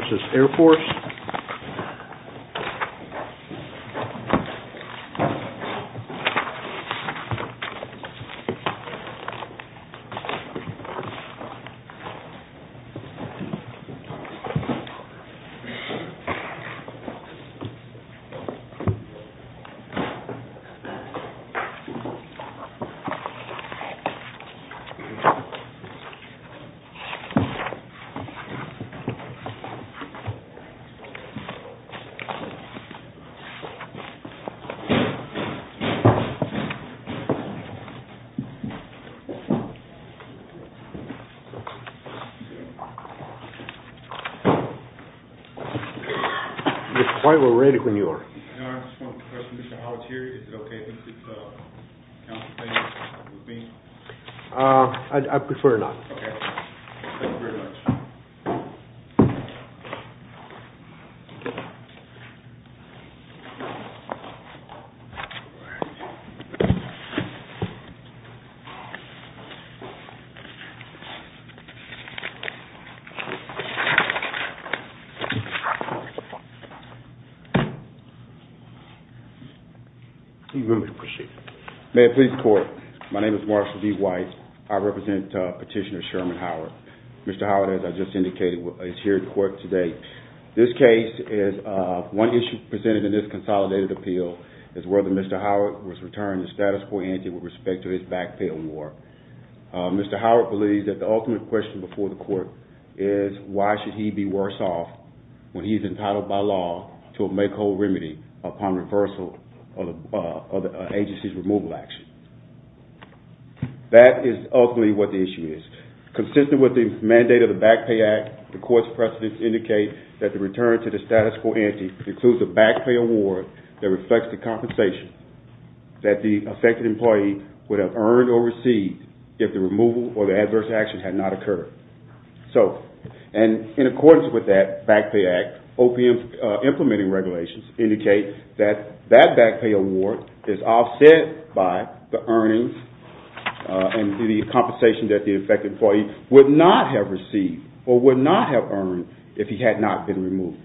v. Air Force You look quite well ready when you are. I just wanted to ask a question about how it's here. Is it okay if we could contemplate it with me? I prefer not. Okay. Thank you very much. Please proceed. May it please the court. My name is Marshall D. White. I represent Petitioner Sherman Howard. Mr. Howard, as I just indicated, is here in court today. This case is one issue presented in this consolidated appeal is whether Mr. Howard was returned to status quo entity with respect to his backfill war. Mr. Howard believes that the ultimate question before the court is why should he be worse off when he is entitled by law to a make whole remedy upon reversal of the agency's removal action. That is ultimately what the issue is. Consistent with the mandate of the Back Pay Act, the court's precedents indicate that the return to the status quo entity includes a back pay award that reflects the compensation that the affected employee would have earned or received if the removal or the adverse actions had not occurred. In accordance with that Back Pay Act, OPM's implementing regulations indicate that that back pay award is offset by the earnings and the compensation that the affected employee would not have received or would not have earned if he had not been removed.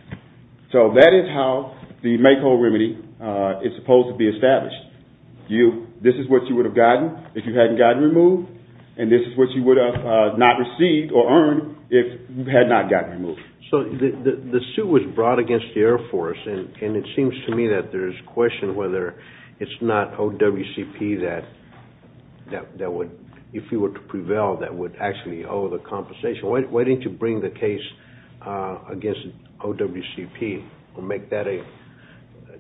So that is how the make whole remedy is supposed to be established. This is what you would have gotten if you hadn't gotten removed and this is what you would have not received or earned if you had not gotten removed. So the suit was brought against the Air Force and it seems to me that there is question whether it's not OWCP that would, if he were to prevail, that would actually owe the compensation. Why didn't you bring the case against OWCP or make that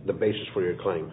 the basis for your claim?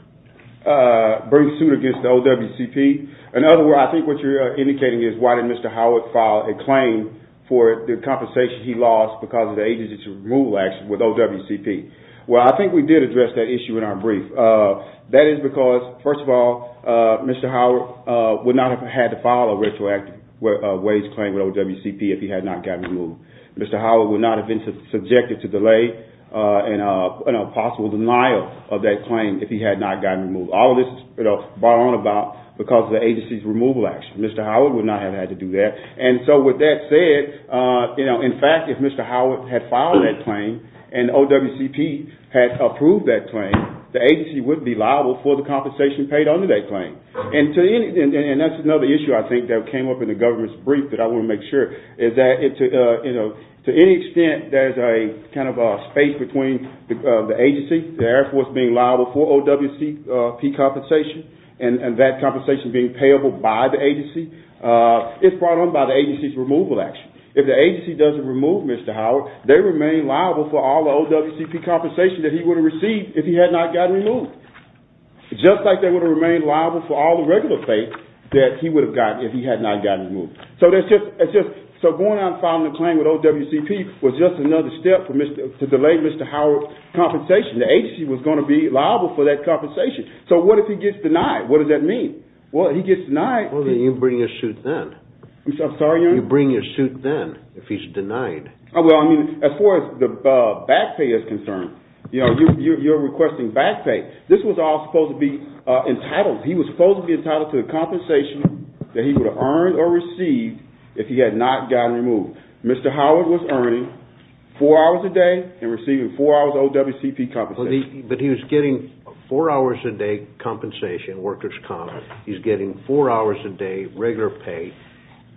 Bring the suit against the OWCP? In other words, I think what you're indicating is why did Mr. Howard file a claim for the compensation he lost because of the agency's removal action with OWCP. Well, I think we did address that issue in our brief. That is because, first of all, Mr. Howard would not have had to file a retroactive wage claim with OWCP if he had not gotten removed. Mr. Howard would not have been subjected to delay and a possible denial of that claim if he had not gotten removed. All of this is brought on about because of the agency's removal action. Mr. Howard would not have had to do that. With that said, in fact, if Mr. Howard had filed that claim and OWCP had approved that claim, the agency would be liable for the compensation paid under that claim. That's another issue I think that came up in the government's brief that I want to make sure. To any extent, there's a space between the agency, the Air Force being liable for OWCP compensation, and that compensation being payable by the agency. It's brought on by the agency's removal action. If the agency doesn't remove Mr. Howard, they remain liable for all the OWCP compensation that he would have received if he had not gotten removed. Just like they would have remained liable for all the regular pay that he would have gotten if he had not gotten removed. So going out and filing a claim with OWCP was just another step to delay Mr. Howard's compensation. The agency was going to be liable for that compensation. So what if he gets denied? What does that mean? Well, then you bring your suit then. I'm sorry, Your Honor? You bring your suit then if he's denied. Well, as far as the back pay is concerned, you're requesting back pay. This was all supposed to be entitled. He was supposed to be entitled to the compensation that he would have earned or received if he had not gotten removed. Mr. Howard was earning four hours a day and receiving four hours of OWCP compensation. But he was getting four hours a day compensation, workers' comp. He was getting four hours a day regular pay.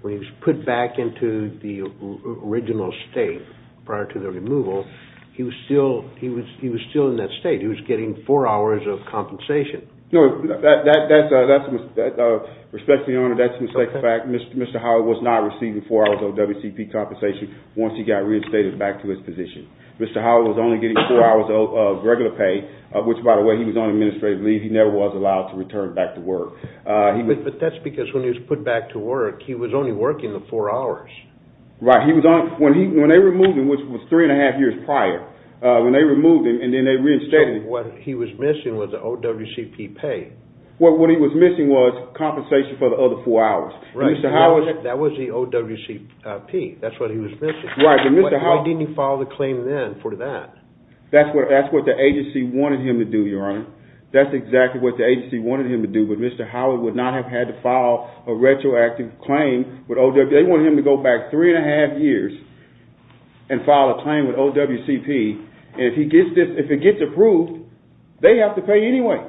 When he was put back into the original state prior to the removal, he was still in that state. He was getting four hours of compensation. No, that's a mistake. Respectfully, Your Honor, that's a mistake. In fact, Mr. Howard was not receiving four hours of OWCP compensation once he got reinstated back to his position. Mr. Howard was only getting four hours of regular pay, which, by the way, he was on administrative leave. He never was allowed to return back to work. But that's because when he was put back to work, he was only working the four hours. Right. When they removed him, which was three and a half years prior, when they removed him and then they reinstated him. So what he was missing was the OWCP pay. What he was missing was compensation for the other four hours. Right. That was the OWCP. That's what he was missing. Why didn't you file the claim then for that? That's what the agency wanted him to do, Your Honor. That's exactly what the agency wanted him to do. But Mr. Howard would not have had to file a retroactive claim. They wanted him to go back three and a half years and file a claim with OWCP. And if it gets approved, they have to pay anyway.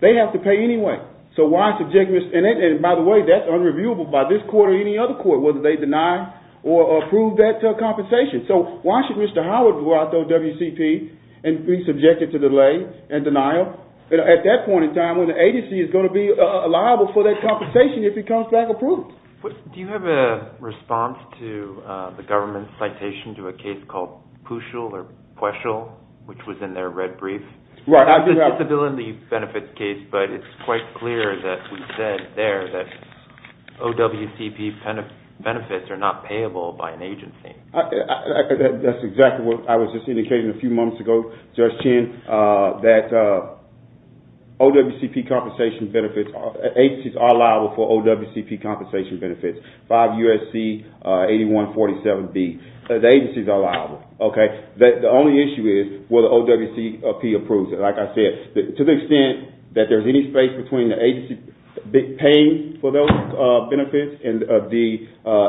They have to pay anyway. So why subject Mr. – and by the way, that's unreviewable by this court or any other court, whether they deny or approve that compensation. So why should Mr. Howard go out to OWCP and be subjected to delay and denial at that point in time when the agency is going to be liable for that compensation if it comes back approved? Do you have a response to the government's citation to a case called Puchel or Pueschel, which was in their red brief? Right. It's a disability benefits case, but it's quite clear that we said there that OWCP benefits are not payable by an agency. That's exactly what I was just indicating a few moments ago, Judge Chin, that OWCP compensation benefits – agencies are liable for OWCP compensation benefits. 5 U.S.C. 8147B. The agencies are liable. The only issue is whether OWCP approves it. Like I said, to the extent that there's any space between the agency paying for those benefits and the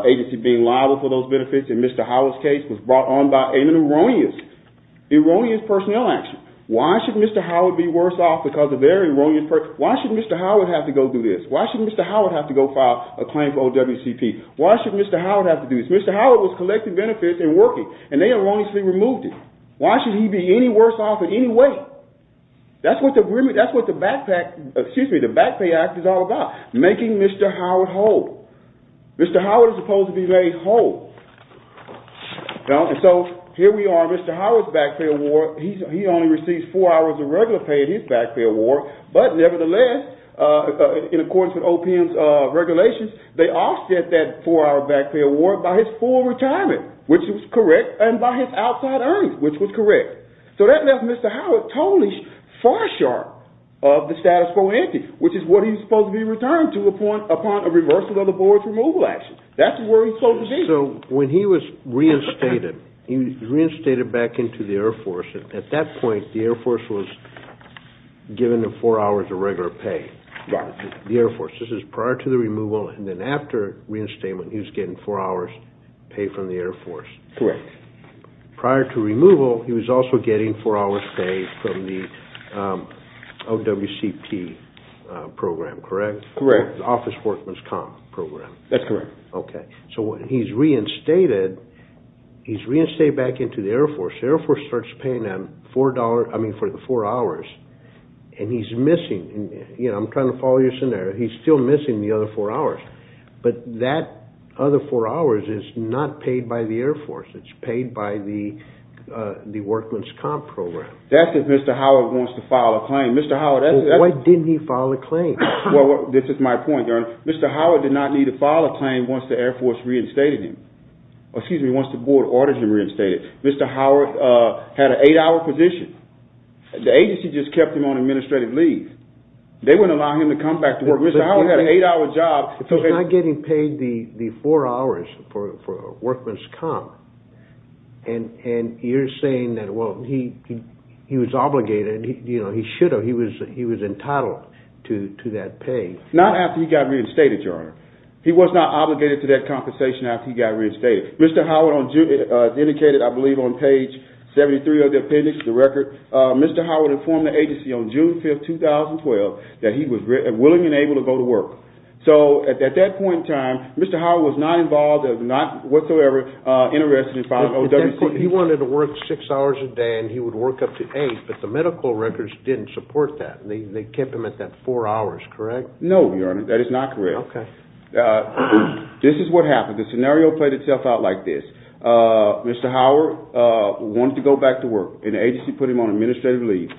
agency being liable for those benefits in Mr. Howard's case was brought on by an erroneous personnel action. Why should Mr. Howard be worse off because of their erroneous – why should Mr. Howard have to go do this? Why should Mr. Howard have to go file a claim for OWCP? Why should Mr. Howard have to do this? Mr. Howard was collecting benefits and working, and they erroneously removed him. Why should he be any worse off in any way? That's what the Back Pay Act is all about, making Mr. Howard whole. Mr. Howard is supposed to be laid whole. So here we are, Mr. Howard's back pay award, he only receives four hours of regular pay in his back pay award, but nevertheless, in accordance with OPM's regulations, they offset that four-hour back pay award by his full retirement, which was correct, and by his outside earnings, which was correct. So that left Mr. Howard totally far-sharp of the status quo ante, which is what he's supposed to be returned to upon a reversal of the Board's removal action. That's where he's supposed to be. So when he was reinstated, he was reinstated back into the Air Force. At that point, the Air Force was giving him four hours of regular pay, the Air Force. This is prior to the removal, and then after reinstatement, he was getting four hours' pay from the Air Force. Correct. Prior to removal, he was also getting four hours' pay from the OWCP program, correct? Correct. The Office Workman's Comp program. That's correct. Okay. So when he's reinstated, he's reinstated back into the Air Force. The Air Force starts paying him four hours, and he's missing. I'm trying to follow your scenario. He's still missing the other four hours, but that other four hours is not paid by the Air Force. It's paid by the Workman's Comp program. That's if Mr. Howard wants to file a claim. This is my point, Your Honor. Mr. Howard did not need to file a claim once the Air Force reinstated him. Excuse me, once the board of orders him reinstated. Mr. Howard had an eight-hour position. The agency just kept him on administrative leave. They wouldn't allow him to come back to work. Mr. Howard had an eight-hour job. He's not getting paid the four hours for Workman's Comp, and you're saying that, well, he was obligated. He should have. He was entitled to that pay. Not after he got reinstated, Your Honor. He was not obligated to that compensation after he got reinstated. Mr. Howard indicated, I believe, on page 73 of the appendix of the record, Mr. Howard informed the agency on June 5, 2012, that he was willing and able to go to work. So at that point in time, Mr. Howard was not involved and not whatsoever interested in filing OWC. He wanted to work six hours a day, and he would work up to eight, but the medical records didn't support that. They kept him at that four hours, correct? No, Your Honor. That is not correct. Okay. This is what happened. The scenario played itself out like this. Mr. Howard wanted to go back to work, and the agency put him on administrative leave,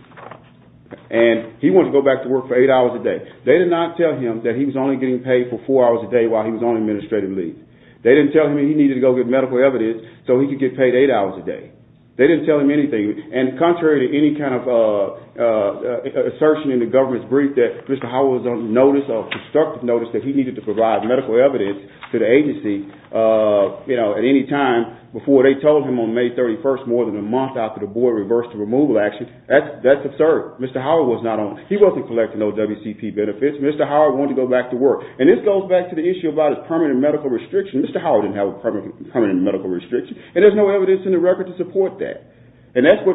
and he wanted to go back to work for eight hours a day. They did not tell him that he was only getting paid for four hours a day while he was on administrative leave. They didn't tell him he needed to go get medical evidence so he could get paid eight hours a day. They didn't tell him anything. And contrary to any kind of assertion in the government's brief that Mr. Howard was on notice or constructive notice that he needed to provide medical evidence to the agency at any time before they told him on May 31st, more than a month after the board reversed the removal action, that's absurd. Mr. Howard was not on it. He wasn't collecting those WCP benefits. Mr. Howard wanted to go back to work. And this goes back to the issue about his permanent medical restriction. Mr. Howard didn't have a permanent medical restriction, and there's no evidence in the record to support that. And that's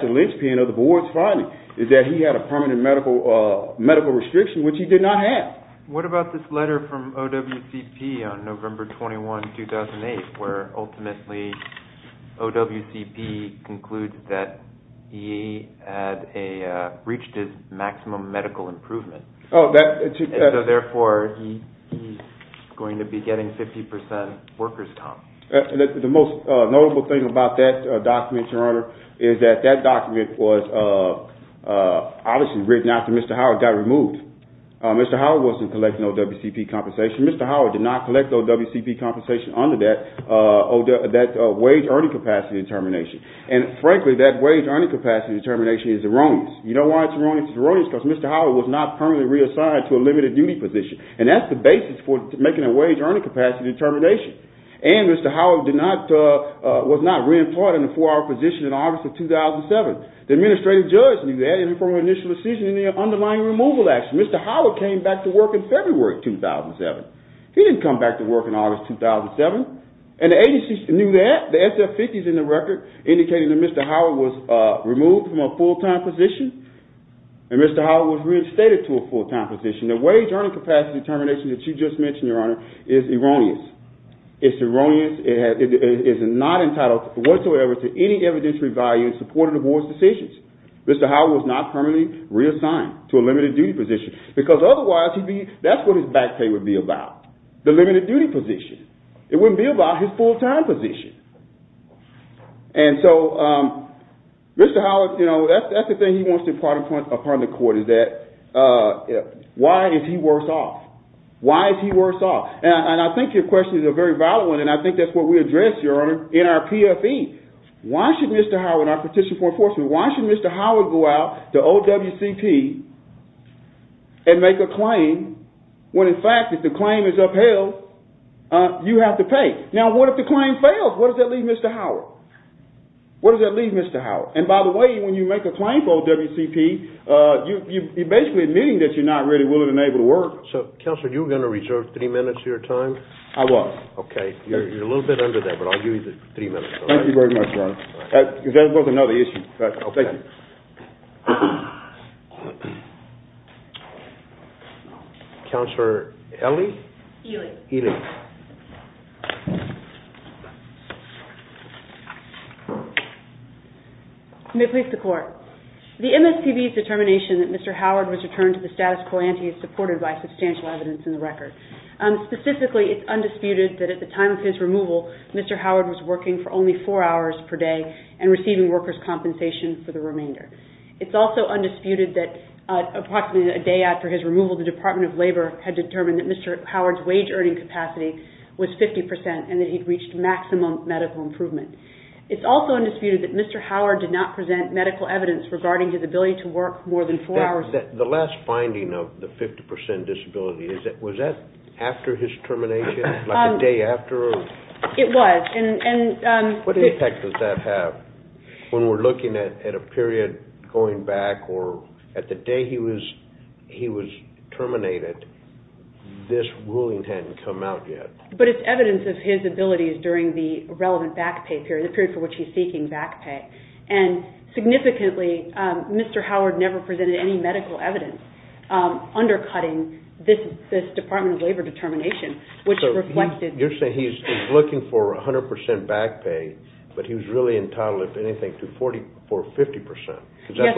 a linchpin of the board's finding, is that he had a permanent medical restriction, which he did not have. What about this letter from OWCP on November 21, 2008, where ultimately OWCP concludes that he had reached his maximum medical improvement. Oh, that. And so, therefore, he's going to be getting 50 percent workers' comp. The most notable thing about that document, Your Honor, is that that document was obviously written after Mr. Howard got removed. Mr. Howard wasn't collecting OWCP compensation. Mr. Howard did not collect OWCP compensation under that wage earning capacity determination. And frankly, that wage earning capacity determination is erroneous. You know why it's erroneous? It's erroneous because Mr. Howard was not permanently reassigned to a limited duty position. And that's the basis for making a wage earning capacity determination. And Mr. Howard was not re-employed in a four-hour position in August of 2007. The administrative judge knew that from an initial decision in the underlying removal action. Mr. Howard came back to work in February 2007. He didn't come back to work in August 2007. And the agency knew that. The SF-50 is in the record indicating that Mr. Howard was removed from a full-time position, and Mr. Howard was reinstated to a full-time position. The wage earning capacity determination that you just mentioned, Your Honor, is erroneous. It's erroneous. It is not entitled whatsoever to any evidentiary value in support of the board's decisions. Mr. Howard was not permanently reassigned to a limited duty position. Because otherwise, that's what his back pay would be about, the limited duty position. It wouldn't be about his full-time position. And so Mr. Howard, you know, that's the thing he wants to impart upon the court is that why is he worse off? Why is he worse off? And I think your question is a very valid one, and I think that's what we address, Your Honor, in our PFE. Why should Mr. Howard, our petition for enforcement, why should Mr. Howard go out to OWCP and make a claim when in fact if the claim is upheld, you have to pay? Now, what if the claim fails? What does that leave Mr. Howard? What does that leave Mr. Howard? And by the way, when you make a claim for OWCP, you're basically admitting that you're not really willing and able to work. So, Counselor, you were going to reserve three minutes of your time? I was. Okay. You're a little bit under that, but I'll give you the three minutes. Thank you very much, Your Honor. That was another issue. Thank you. Counselor Ely? Ely. Ely. May it please the Court. The MSPB's determination that Mr. Howard was returned to the status quo ante is supported by substantial evidence in the record. Specifically, it's undisputed that at the time of his removal, Mr. Howard was working for only four hours per day and receiving workers' compensation for the remainder. It's also undisputed that approximately a day after his removal, the Department of Labor had determined that Mr. Howard's wage earning capacity was 50% and that he'd reached maximum medical improvement. It's also undisputed that Mr. Howard did not present medical evidence regarding his ability to work more than four hours a day. The last finding of the 50% disability, was that after his termination, like a day after? It was. What impact does that have? When we're looking at a period going back or at the day he was terminated, this ruling hadn't come out yet. But it's evidence of his abilities during the relevant back pay period, the period for which he's seeking back pay. And significantly, Mr. Howard never presented any medical evidence undercutting this Department of Labor determination, which reflected... You're saying he's looking for 100% back pay, but he was really entitled, if anything, for 50%. That's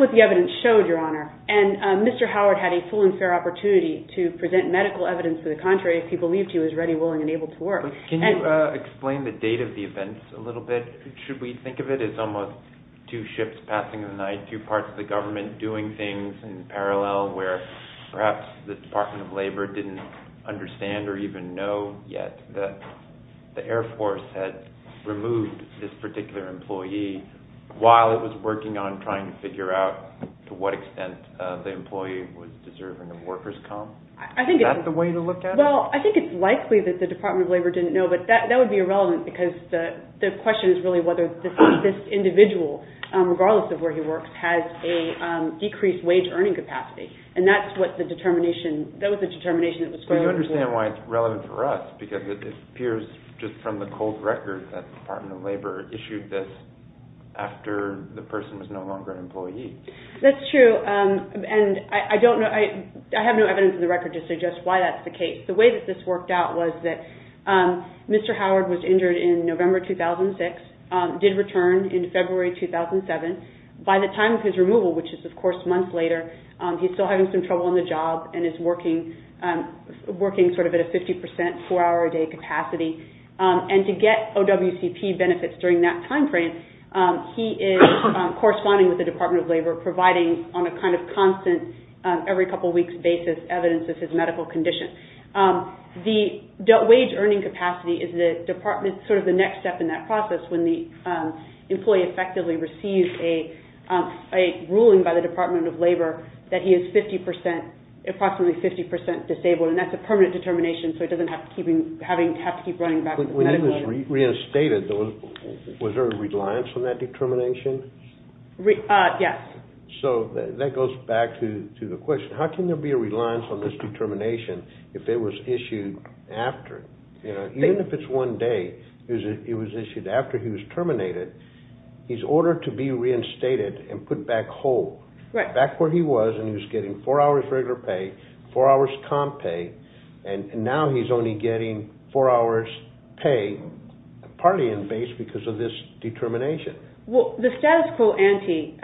what the evidence showed, Your Honor. And Mr. Howard had a full and fair opportunity to present medical evidence for the contrary if he believed he was ready, willing, and able to work. Can you explain the date of the events a little bit? Should we think of it as almost two ships passing in the night, two parts of the government doing things in parallel, where perhaps the Department of Labor didn't understand or even know yet that the Air Force had removed this particular employee, while it was working on trying to figure out to what extent the employee was deserving of workers' comp? Is that the way to look at it? Well, I think it's likely that the Department of Labor didn't know, but that would be irrelevant because the question is really whether this individual, regardless of where he works, has a decreased wage earning capacity. And that's what the determination, that was the determination that was... Do you understand why it's relevant for us? Because it appears just from the cold record that the Department of Labor issued this after the person was no longer an employee. That's true. And I don't know, I have no evidence in the record to suggest why that's the case. The way that this worked out was that Mr. Howard was injured in November 2006, did return in February 2007. By the time of his removal, which is, of course, months later, he's still having some trouble on the job and is working sort of at a 50% four-hour-a-day capacity. And to get OWCP benefits during that time frame, he is corresponding with the Department of Labor, providing on a kind of constant, every couple weeks basis, evidence of his medical condition. The wage earning capacity is the department's sort of the next step in that process when the employee effectively receives a ruling by the Department of Labor that he is approximately 50% disabled. And that's a permanent determination, so he doesn't have to keep running back to the medical office. When he was reinstated, was there a reliance on that determination? Yes. So that goes back to the question, how can there be a reliance on this determination if it was issued after? Even if it's one day, it was issued after he was terminated, he's ordered to be reinstated and put back home. Right. So he's back where he was and he was getting four hours regular pay, four hours comp pay, and now he's only getting four hours pay, partly in base because of this determination. Well, the status quo ante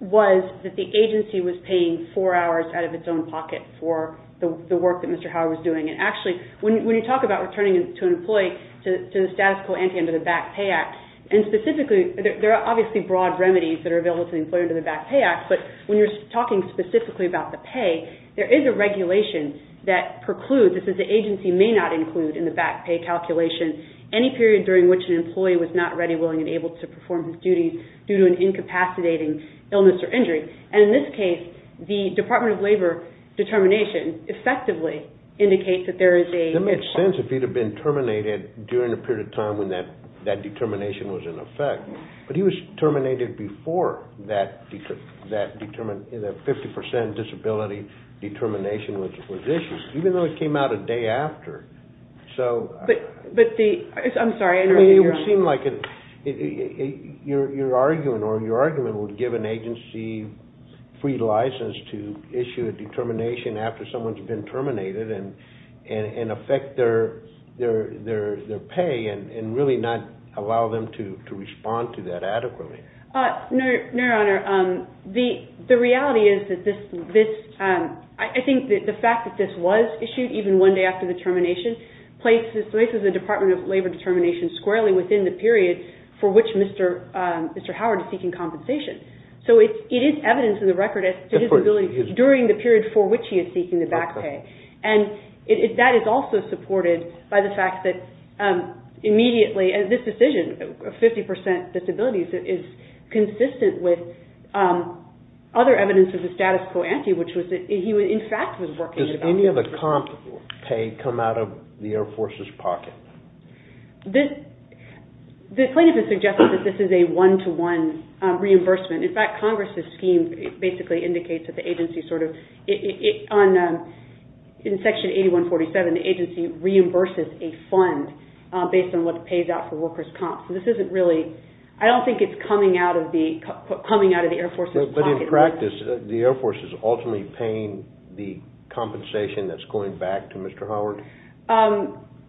was that the agency was paying four hours out of its own pocket for the work that Mr. Howard was doing. And actually, when you talk about returning to an employee to the status quo ante under the Back Pay Act, and specifically, there are obviously broad remedies that are available to the employee under the Back Pay Act, but when you're talking specifically about the pay, there is a regulation that precludes, it says the agency may not include in the back pay calculation any period during which an employee was not ready, willing, and able to perform his duties due to an incapacitating illness or injury. And in this case, the Department of Labor determination effectively indicates that there is a… It would make sense if he had been terminated during the period of time when that determination was in effect, but he was terminated before that 50% disability determination was issued, even though it came out a day after. I'm sorry, I didn't hear you. It would seem like your argument would give an agency free license to issue a determination after someone's been terminated and affect their pay and really not allow them to respond to that adequately. No, Your Honor, the reality is that this… I think that the fact that this was issued even one day after the termination places the Department of Labor determination squarely within the period for which Mr. Howard is seeking compensation. So it is evidence in the record as to his ability during the period for which he is seeking the back pay. And that is also supported by the fact that immediately, this decision of 50% disability is consistent with other evidence of the status quo ante, which was that he in fact was working… Does any of the comp pay come out of the Air Force's pocket? The plaintiff has suggested that this is a one-to-one reimbursement. In fact, Congress' scheme basically indicates that the agency sort of… In Section 8147, the agency reimburses a fund based on what it pays out for workers' comps. So this isn't really… I don't think it's coming out of the Air Force's pocket. But in practice, the Air Force is ultimately paying the compensation that's going back to Mr. Howard?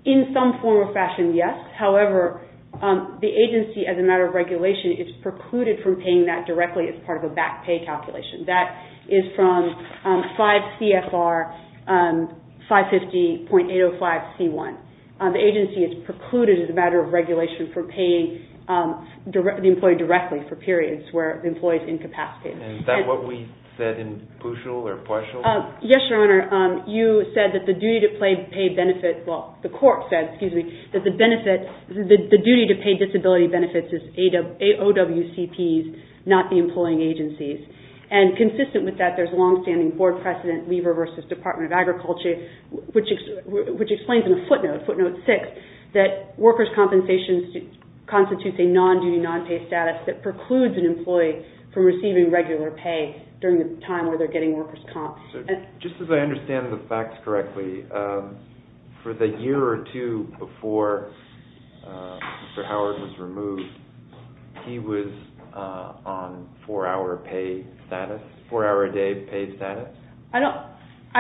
In some form or fashion, yes. However, the agency, as a matter of regulation, is precluded from paying that directly as part of a back pay calculation. That is from 5 CFR 550.805C1. The agency is precluded as a matter of regulation from paying the employee directly for periods where the employee is incapacitated. Is that what we said in PUSHU or PUSHU? Yes, Your Honor. You said that the duty to pay disability benefits is OWCPs, not the employing agencies. And consistent with that, there's long-standing board precedent, Lever v. Department of Agriculture, which explains in a footnote, footnote 6, that workers' compensations constitute a non-duty, non-pay status that precludes an employee from receiving regular pay during the time where they're getting workers' comp. Just as I understand the facts correctly, for the year or two before Mr. Howard was removed, he was on 4-hour pay status, 4-hour a day pay status? I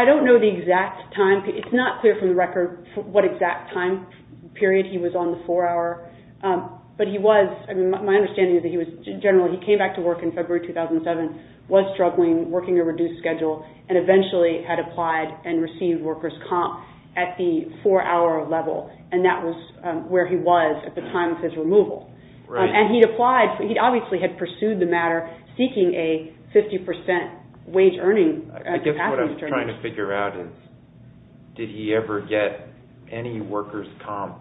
don't know the exact time. It's not clear from the record what exact time period he was on the 4-hour. But he was, my understanding is that he was generally, he came back to work in February 2007, was struggling, working a reduced schedule, and eventually had applied and received workers' comp at the 4-hour level, and that was where he was at the time of his removal. And he'd applied, he obviously had pursued the matter, seeking a 50% wage earning. I guess what I'm trying to figure out is, did he ever get any workers' comp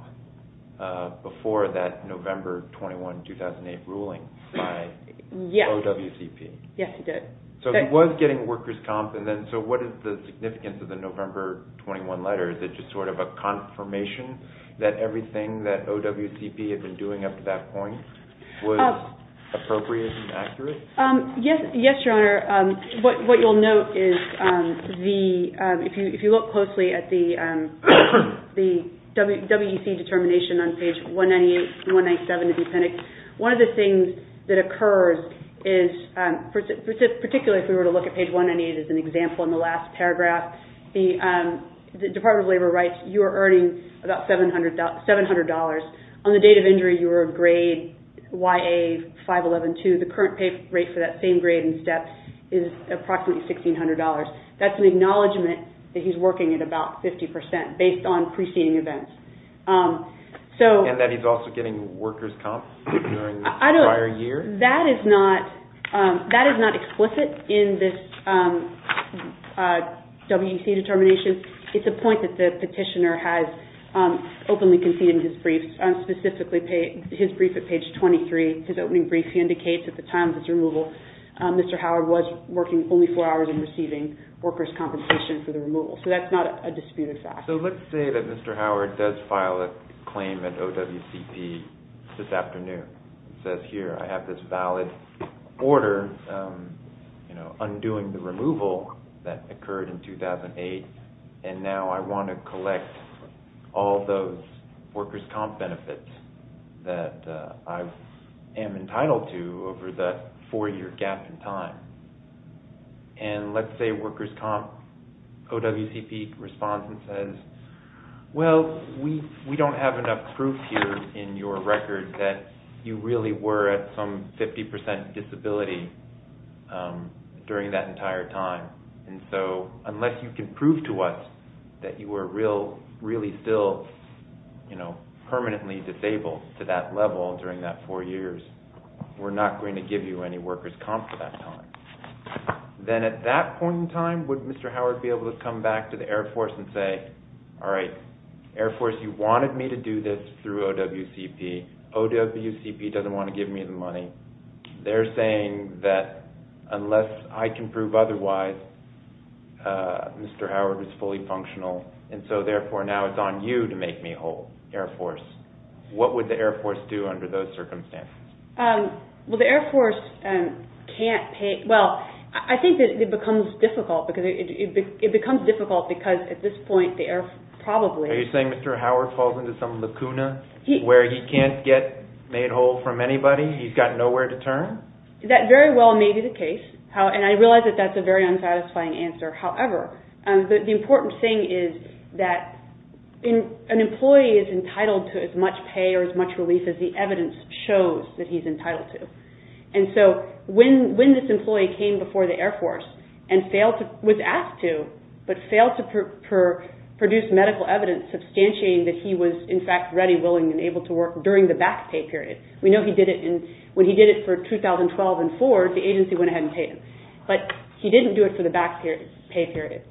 before that November 21, 2008 ruling by OWCP? Yes, he did. So he was getting workers' comp, and then, so what is the significance of the November 21 letter? Is it just sort of a confirmation that everything that OWCP had been doing up to that point was appropriate and accurate? Yes, Your Honor. What you'll note is the, if you look closely at the WEC determination on page 198 and 197 of the appendix, one of the things that occurs is, particularly if we were to look at page 198 as an example in the last paragraph, the Department of Labor writes, you are earning about $700. On the date of injury, you are a grade YA-511-2. The current pay rate for that same grade in steps is approximately $1,600. That's an acknowledgment that he's working at about 50% based on preceding events. And that he's also getting workers' comp during the prior year? That is not explicit in this WEC determination. It's a point that the petitioner has openly conceded in his brief, specifically his brief at page 23. His opening brief indicates at the time of his removal, Mr. Howard was working only four hours and receiving workers' compensation for the removal. So that's not a disputed fact. So let's say that Mr. Howard does file a claim at OWCP this afternoon. He says, here, I have this valid order undoing the removal that occurred in 2008, and now I want to collect all those workers' comp benefits that I am entitled to over that four-year gap in time. And let's say workers' comp, OWCP responds and says, well, we don't have enough proof here in your record that you really were at some 50% disability during that entire time. And so unless you can prove to us that you were really still permanently disabled to that level during that four years, we're not going to give you any workers' comp for that time. Then at that point in time, would Mr. Howard be able to come back to the Air Force and say, all right, Air Force, you wanted me to do this through OWCP. OWCP doesn't want to give me the money. They're saying that unless I can prove otherwise, Mr. Howard is fully functional, and so therefore now it's on you to make me whole, Air Force. What would the Air Force do under those circumstances? Well, the Air Force can't pay – well, I think that it becomes difficult because at this point the Air Force probably – Are you saying Mr. Howard falls into some lacuna where he can't get made whole from anybody? He's got nowhere to turn? That very well may be the case, and I realize that that's a very unsatisfying answer. However, the important thing is that an employee is entitled to as much pay or as much relief as the evidence shows that he's entitled to. And so when this employee came before the Air Force and was asked to, but failed to produce medical evidence substantiating that he was, in fact, ready, willing, and able to work during the back pay period – we know he did it in – when he did it for 2012 and four, the agency went ahead and paid him, but he didn't do it for the back pay period.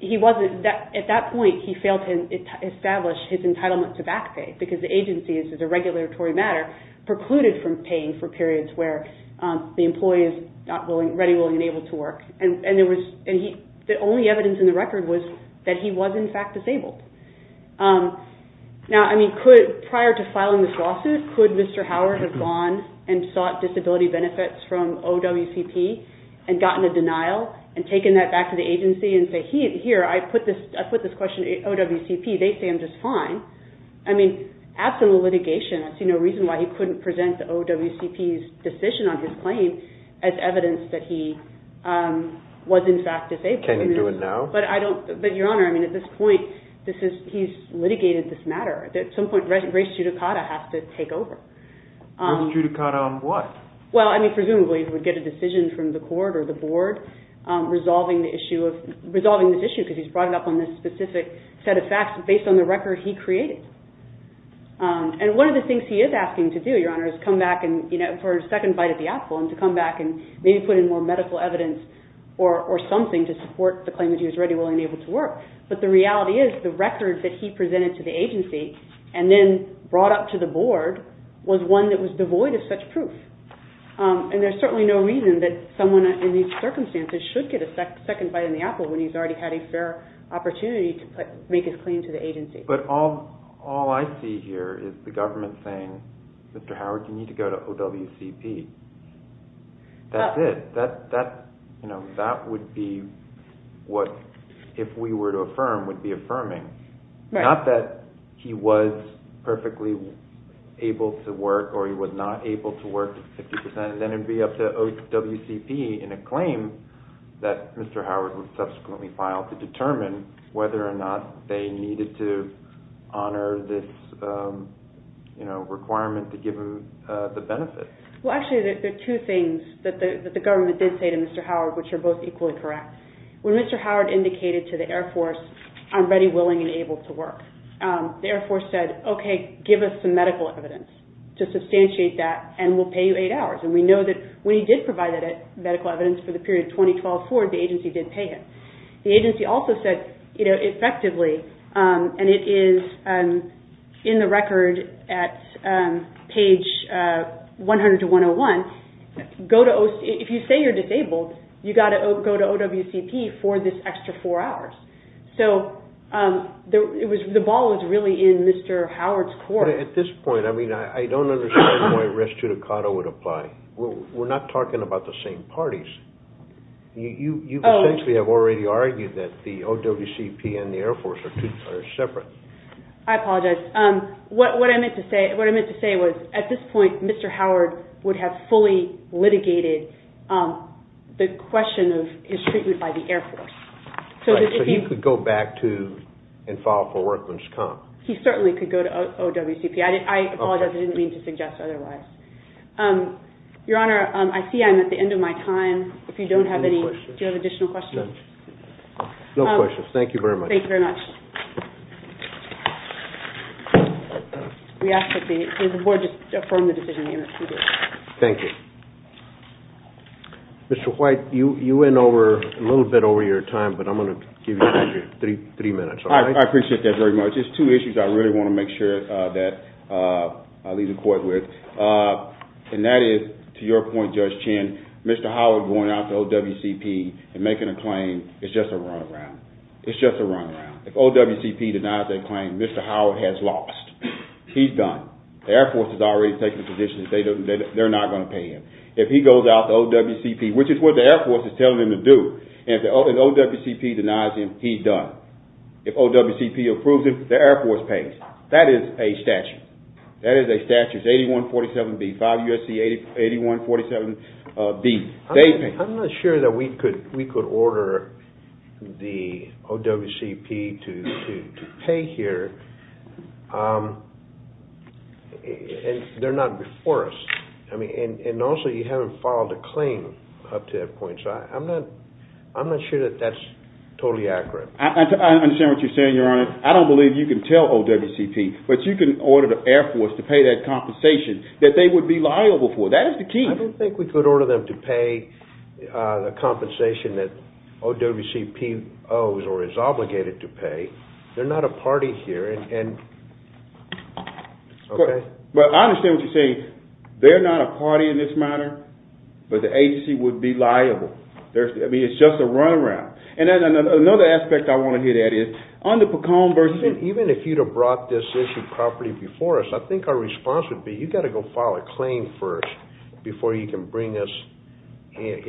He wasn't – at that point he failed to establish his entitlement to back pay because the agency, as a regulatory matter, precluded from paying for periods where the employee is not ready, willing, and able to work. And there was – the only evidence in the record was that he was, in fact, disabled. Now, I mean, could – prior to filing this lawsuit, could Mr. Howard have gone and sought disability benefits from OWCP and gotten a denial and taken that back to the agency and say, here, I put this question to OWCP, they say I'm just fine. I mean, after the litigation, I see no reason why he couldn't present the OWCP's decision on his claim as evidence that he was, in fact, disabled. Can he do it now? But I don't – but, Your Honor, I mean, at this point, this is – he's litigated this matter. At some point, race judicata has to take over. Race judicata on what? Well, I mean, presumably he would get a decision from the court or the board resolving the issue of – resolving this issue because he's brought it up on this specific set of facts based on the record he created. And one of the things he is asking to do, Your Honor, is come back and – for a second bite at the apple and to come back and maybe put in more medical evidence or something to support the claim that he was ready, willing, and able to work. But the reality is the record that he presented to the agency and then brought up to the board was one that was devoid of such proof. And there's certainly no reason that someone in these circumstances should get a second bite in the apple when he's already had a fair opportunity to make his claim to the agency. But all I see here is the government saying, Mr. Howard, you need to go to OWCP. That's it. That would be what, if we were to affirm, would be affirming. Not that he was perfectly able to work or he was not able to work to 50%. Then it would be up to OWCP in a claim that Mr. Howard would subsequently file to determine whether or not they needed to honor this requirement to give him the benefit. Well, actually, there are two things that the government did say to Mr. Howard, which are both equally correct. When Mr. Howard indicated to the Air Force, I'm ready, willing, and able to work, the Air Force said, okay, give us some medical evidence to substantiate that and we'll pay you eight hours. And we know that when he did provide that medical evidence for the period 2012-2014, the agency did pay him. The agency also said effectively, and it is in the record at page 100-101, if you say you're disabled, you've got to go to OWCP for this extra four hours. So the ball is really in Mr. Howard's court. At this point, I mean, I don't understand why res judicato would apply. We're not talking about the same parties. You essentially have already argued that the OWCP and the Air Force are separate. I apologize. What I meant to say was at this point, Mr. Howard would have fully litigated the question of his treatment by the Air Force. So he could go back to and file for work when he's come. He certainly could go to OWCP. I apologize, I didn't mean to suggest otherwise. Your Honor, I see I'm at the end of my time. Do you have additional questions? No questions. Thank you very much. Thank you very much. We ask that the board just affirm the decision. Thank you. Mr. White, you went a little bit over your time, but I'm going to give you three minutes. I appreciate that very much. There's two issues I really want to make sure that I leave the court with. And that is, to your point, Judge Chin, Mr. Howard going out to OWCP and making a claim is just a run around. It's just a run around. If OWCP denies their claim, Mr. Howard has lost. He's done. The Air Force has already taken a position that they're not going to pay him. If he goes out to OWCP, which is what the Air Force is telling him to do, and OWCP denies him, he's done. If OWCP approves him, the Air Force pays. That is a statute. That is a statute. It's 8147B, 5 U.S.C. 8147B. I'm not sure that we could order the OWCP to pay here. They're not before us. And also, you haven't filed a claim up to that point, so I'm not sure that that's totally accurate. I understand what you're saying, Your Honor. I don't believe you can tell OWCP, but you can order the Air Force to pay that compensation that they would be liable for. That is the key. I don't think we could order them to pay the compensation that OWCP owes or is obligated to pay. They're not a party here. I understand what you're saying. They're not a party in this matter, but the agency would be liable. It's just a run around. And another aspect I want to hit at is, on the Pecone versus Even if you'd have brought this issue properly before us, I think our response would be you've got to go file a claim first before you can bring us any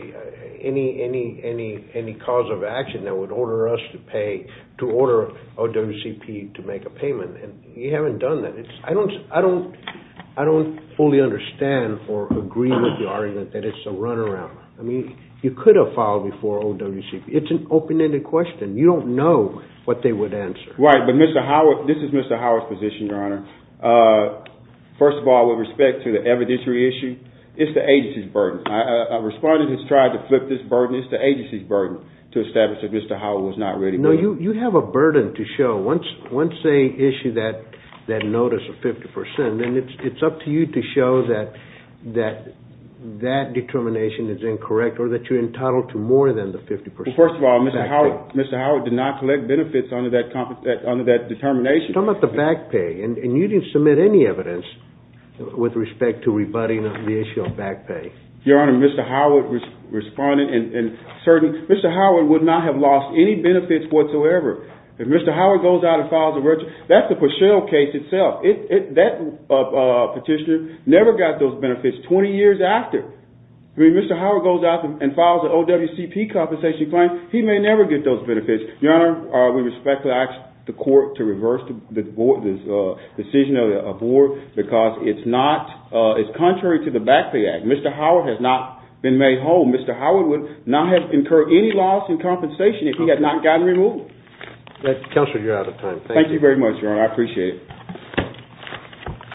cause of action that would order us to pay, to order OWCP to make a payment. You haven't done that. I don't fully understand or agree with your argument that it's a run around. I mean, you could have filed before OWCP. It's an open-ended question. You don't know what they would answer. Right, but this is Mr. Howard's position, Your Honor. First of all, with respect to the evidentiary issue, it's the agency's burden. A respondent has tried to flip this burden. It's the agency's burden to establish that Mr. Howard was not ready for that. No, you have a burden to show. Once they issue that notice of 50 percent, then it's up to you to show that that determination is incorrect or that you're entitled to more than the 50 percent back pay. Well, first of all, Mr. Howard did not collect benefits under that determination. You're talking about the back pay, and you didn't submit any evidence with respect to rebutting the issue of back pay. Your Honor, Mr. Howard would not have lost any benefits whatsoever. If Mr. Howard goes out and files a verdict, that's the Pachelle case itself. That petitioner never got those benefits 20 years after. If Mr. Howard goes out and files an OWCP compensation claim, he may never get those benefits. Your Honor, we respectfully ask the court to reverse the decision of the board because it's contrary to the back pay act. Mr. Howard has not been made whole. Mr. Howard would not have incurred any loss in compensation if he had not gotten removed. Counselor, you're out of time. Thank you. Thank you very much, Your Honor. I appreciate it.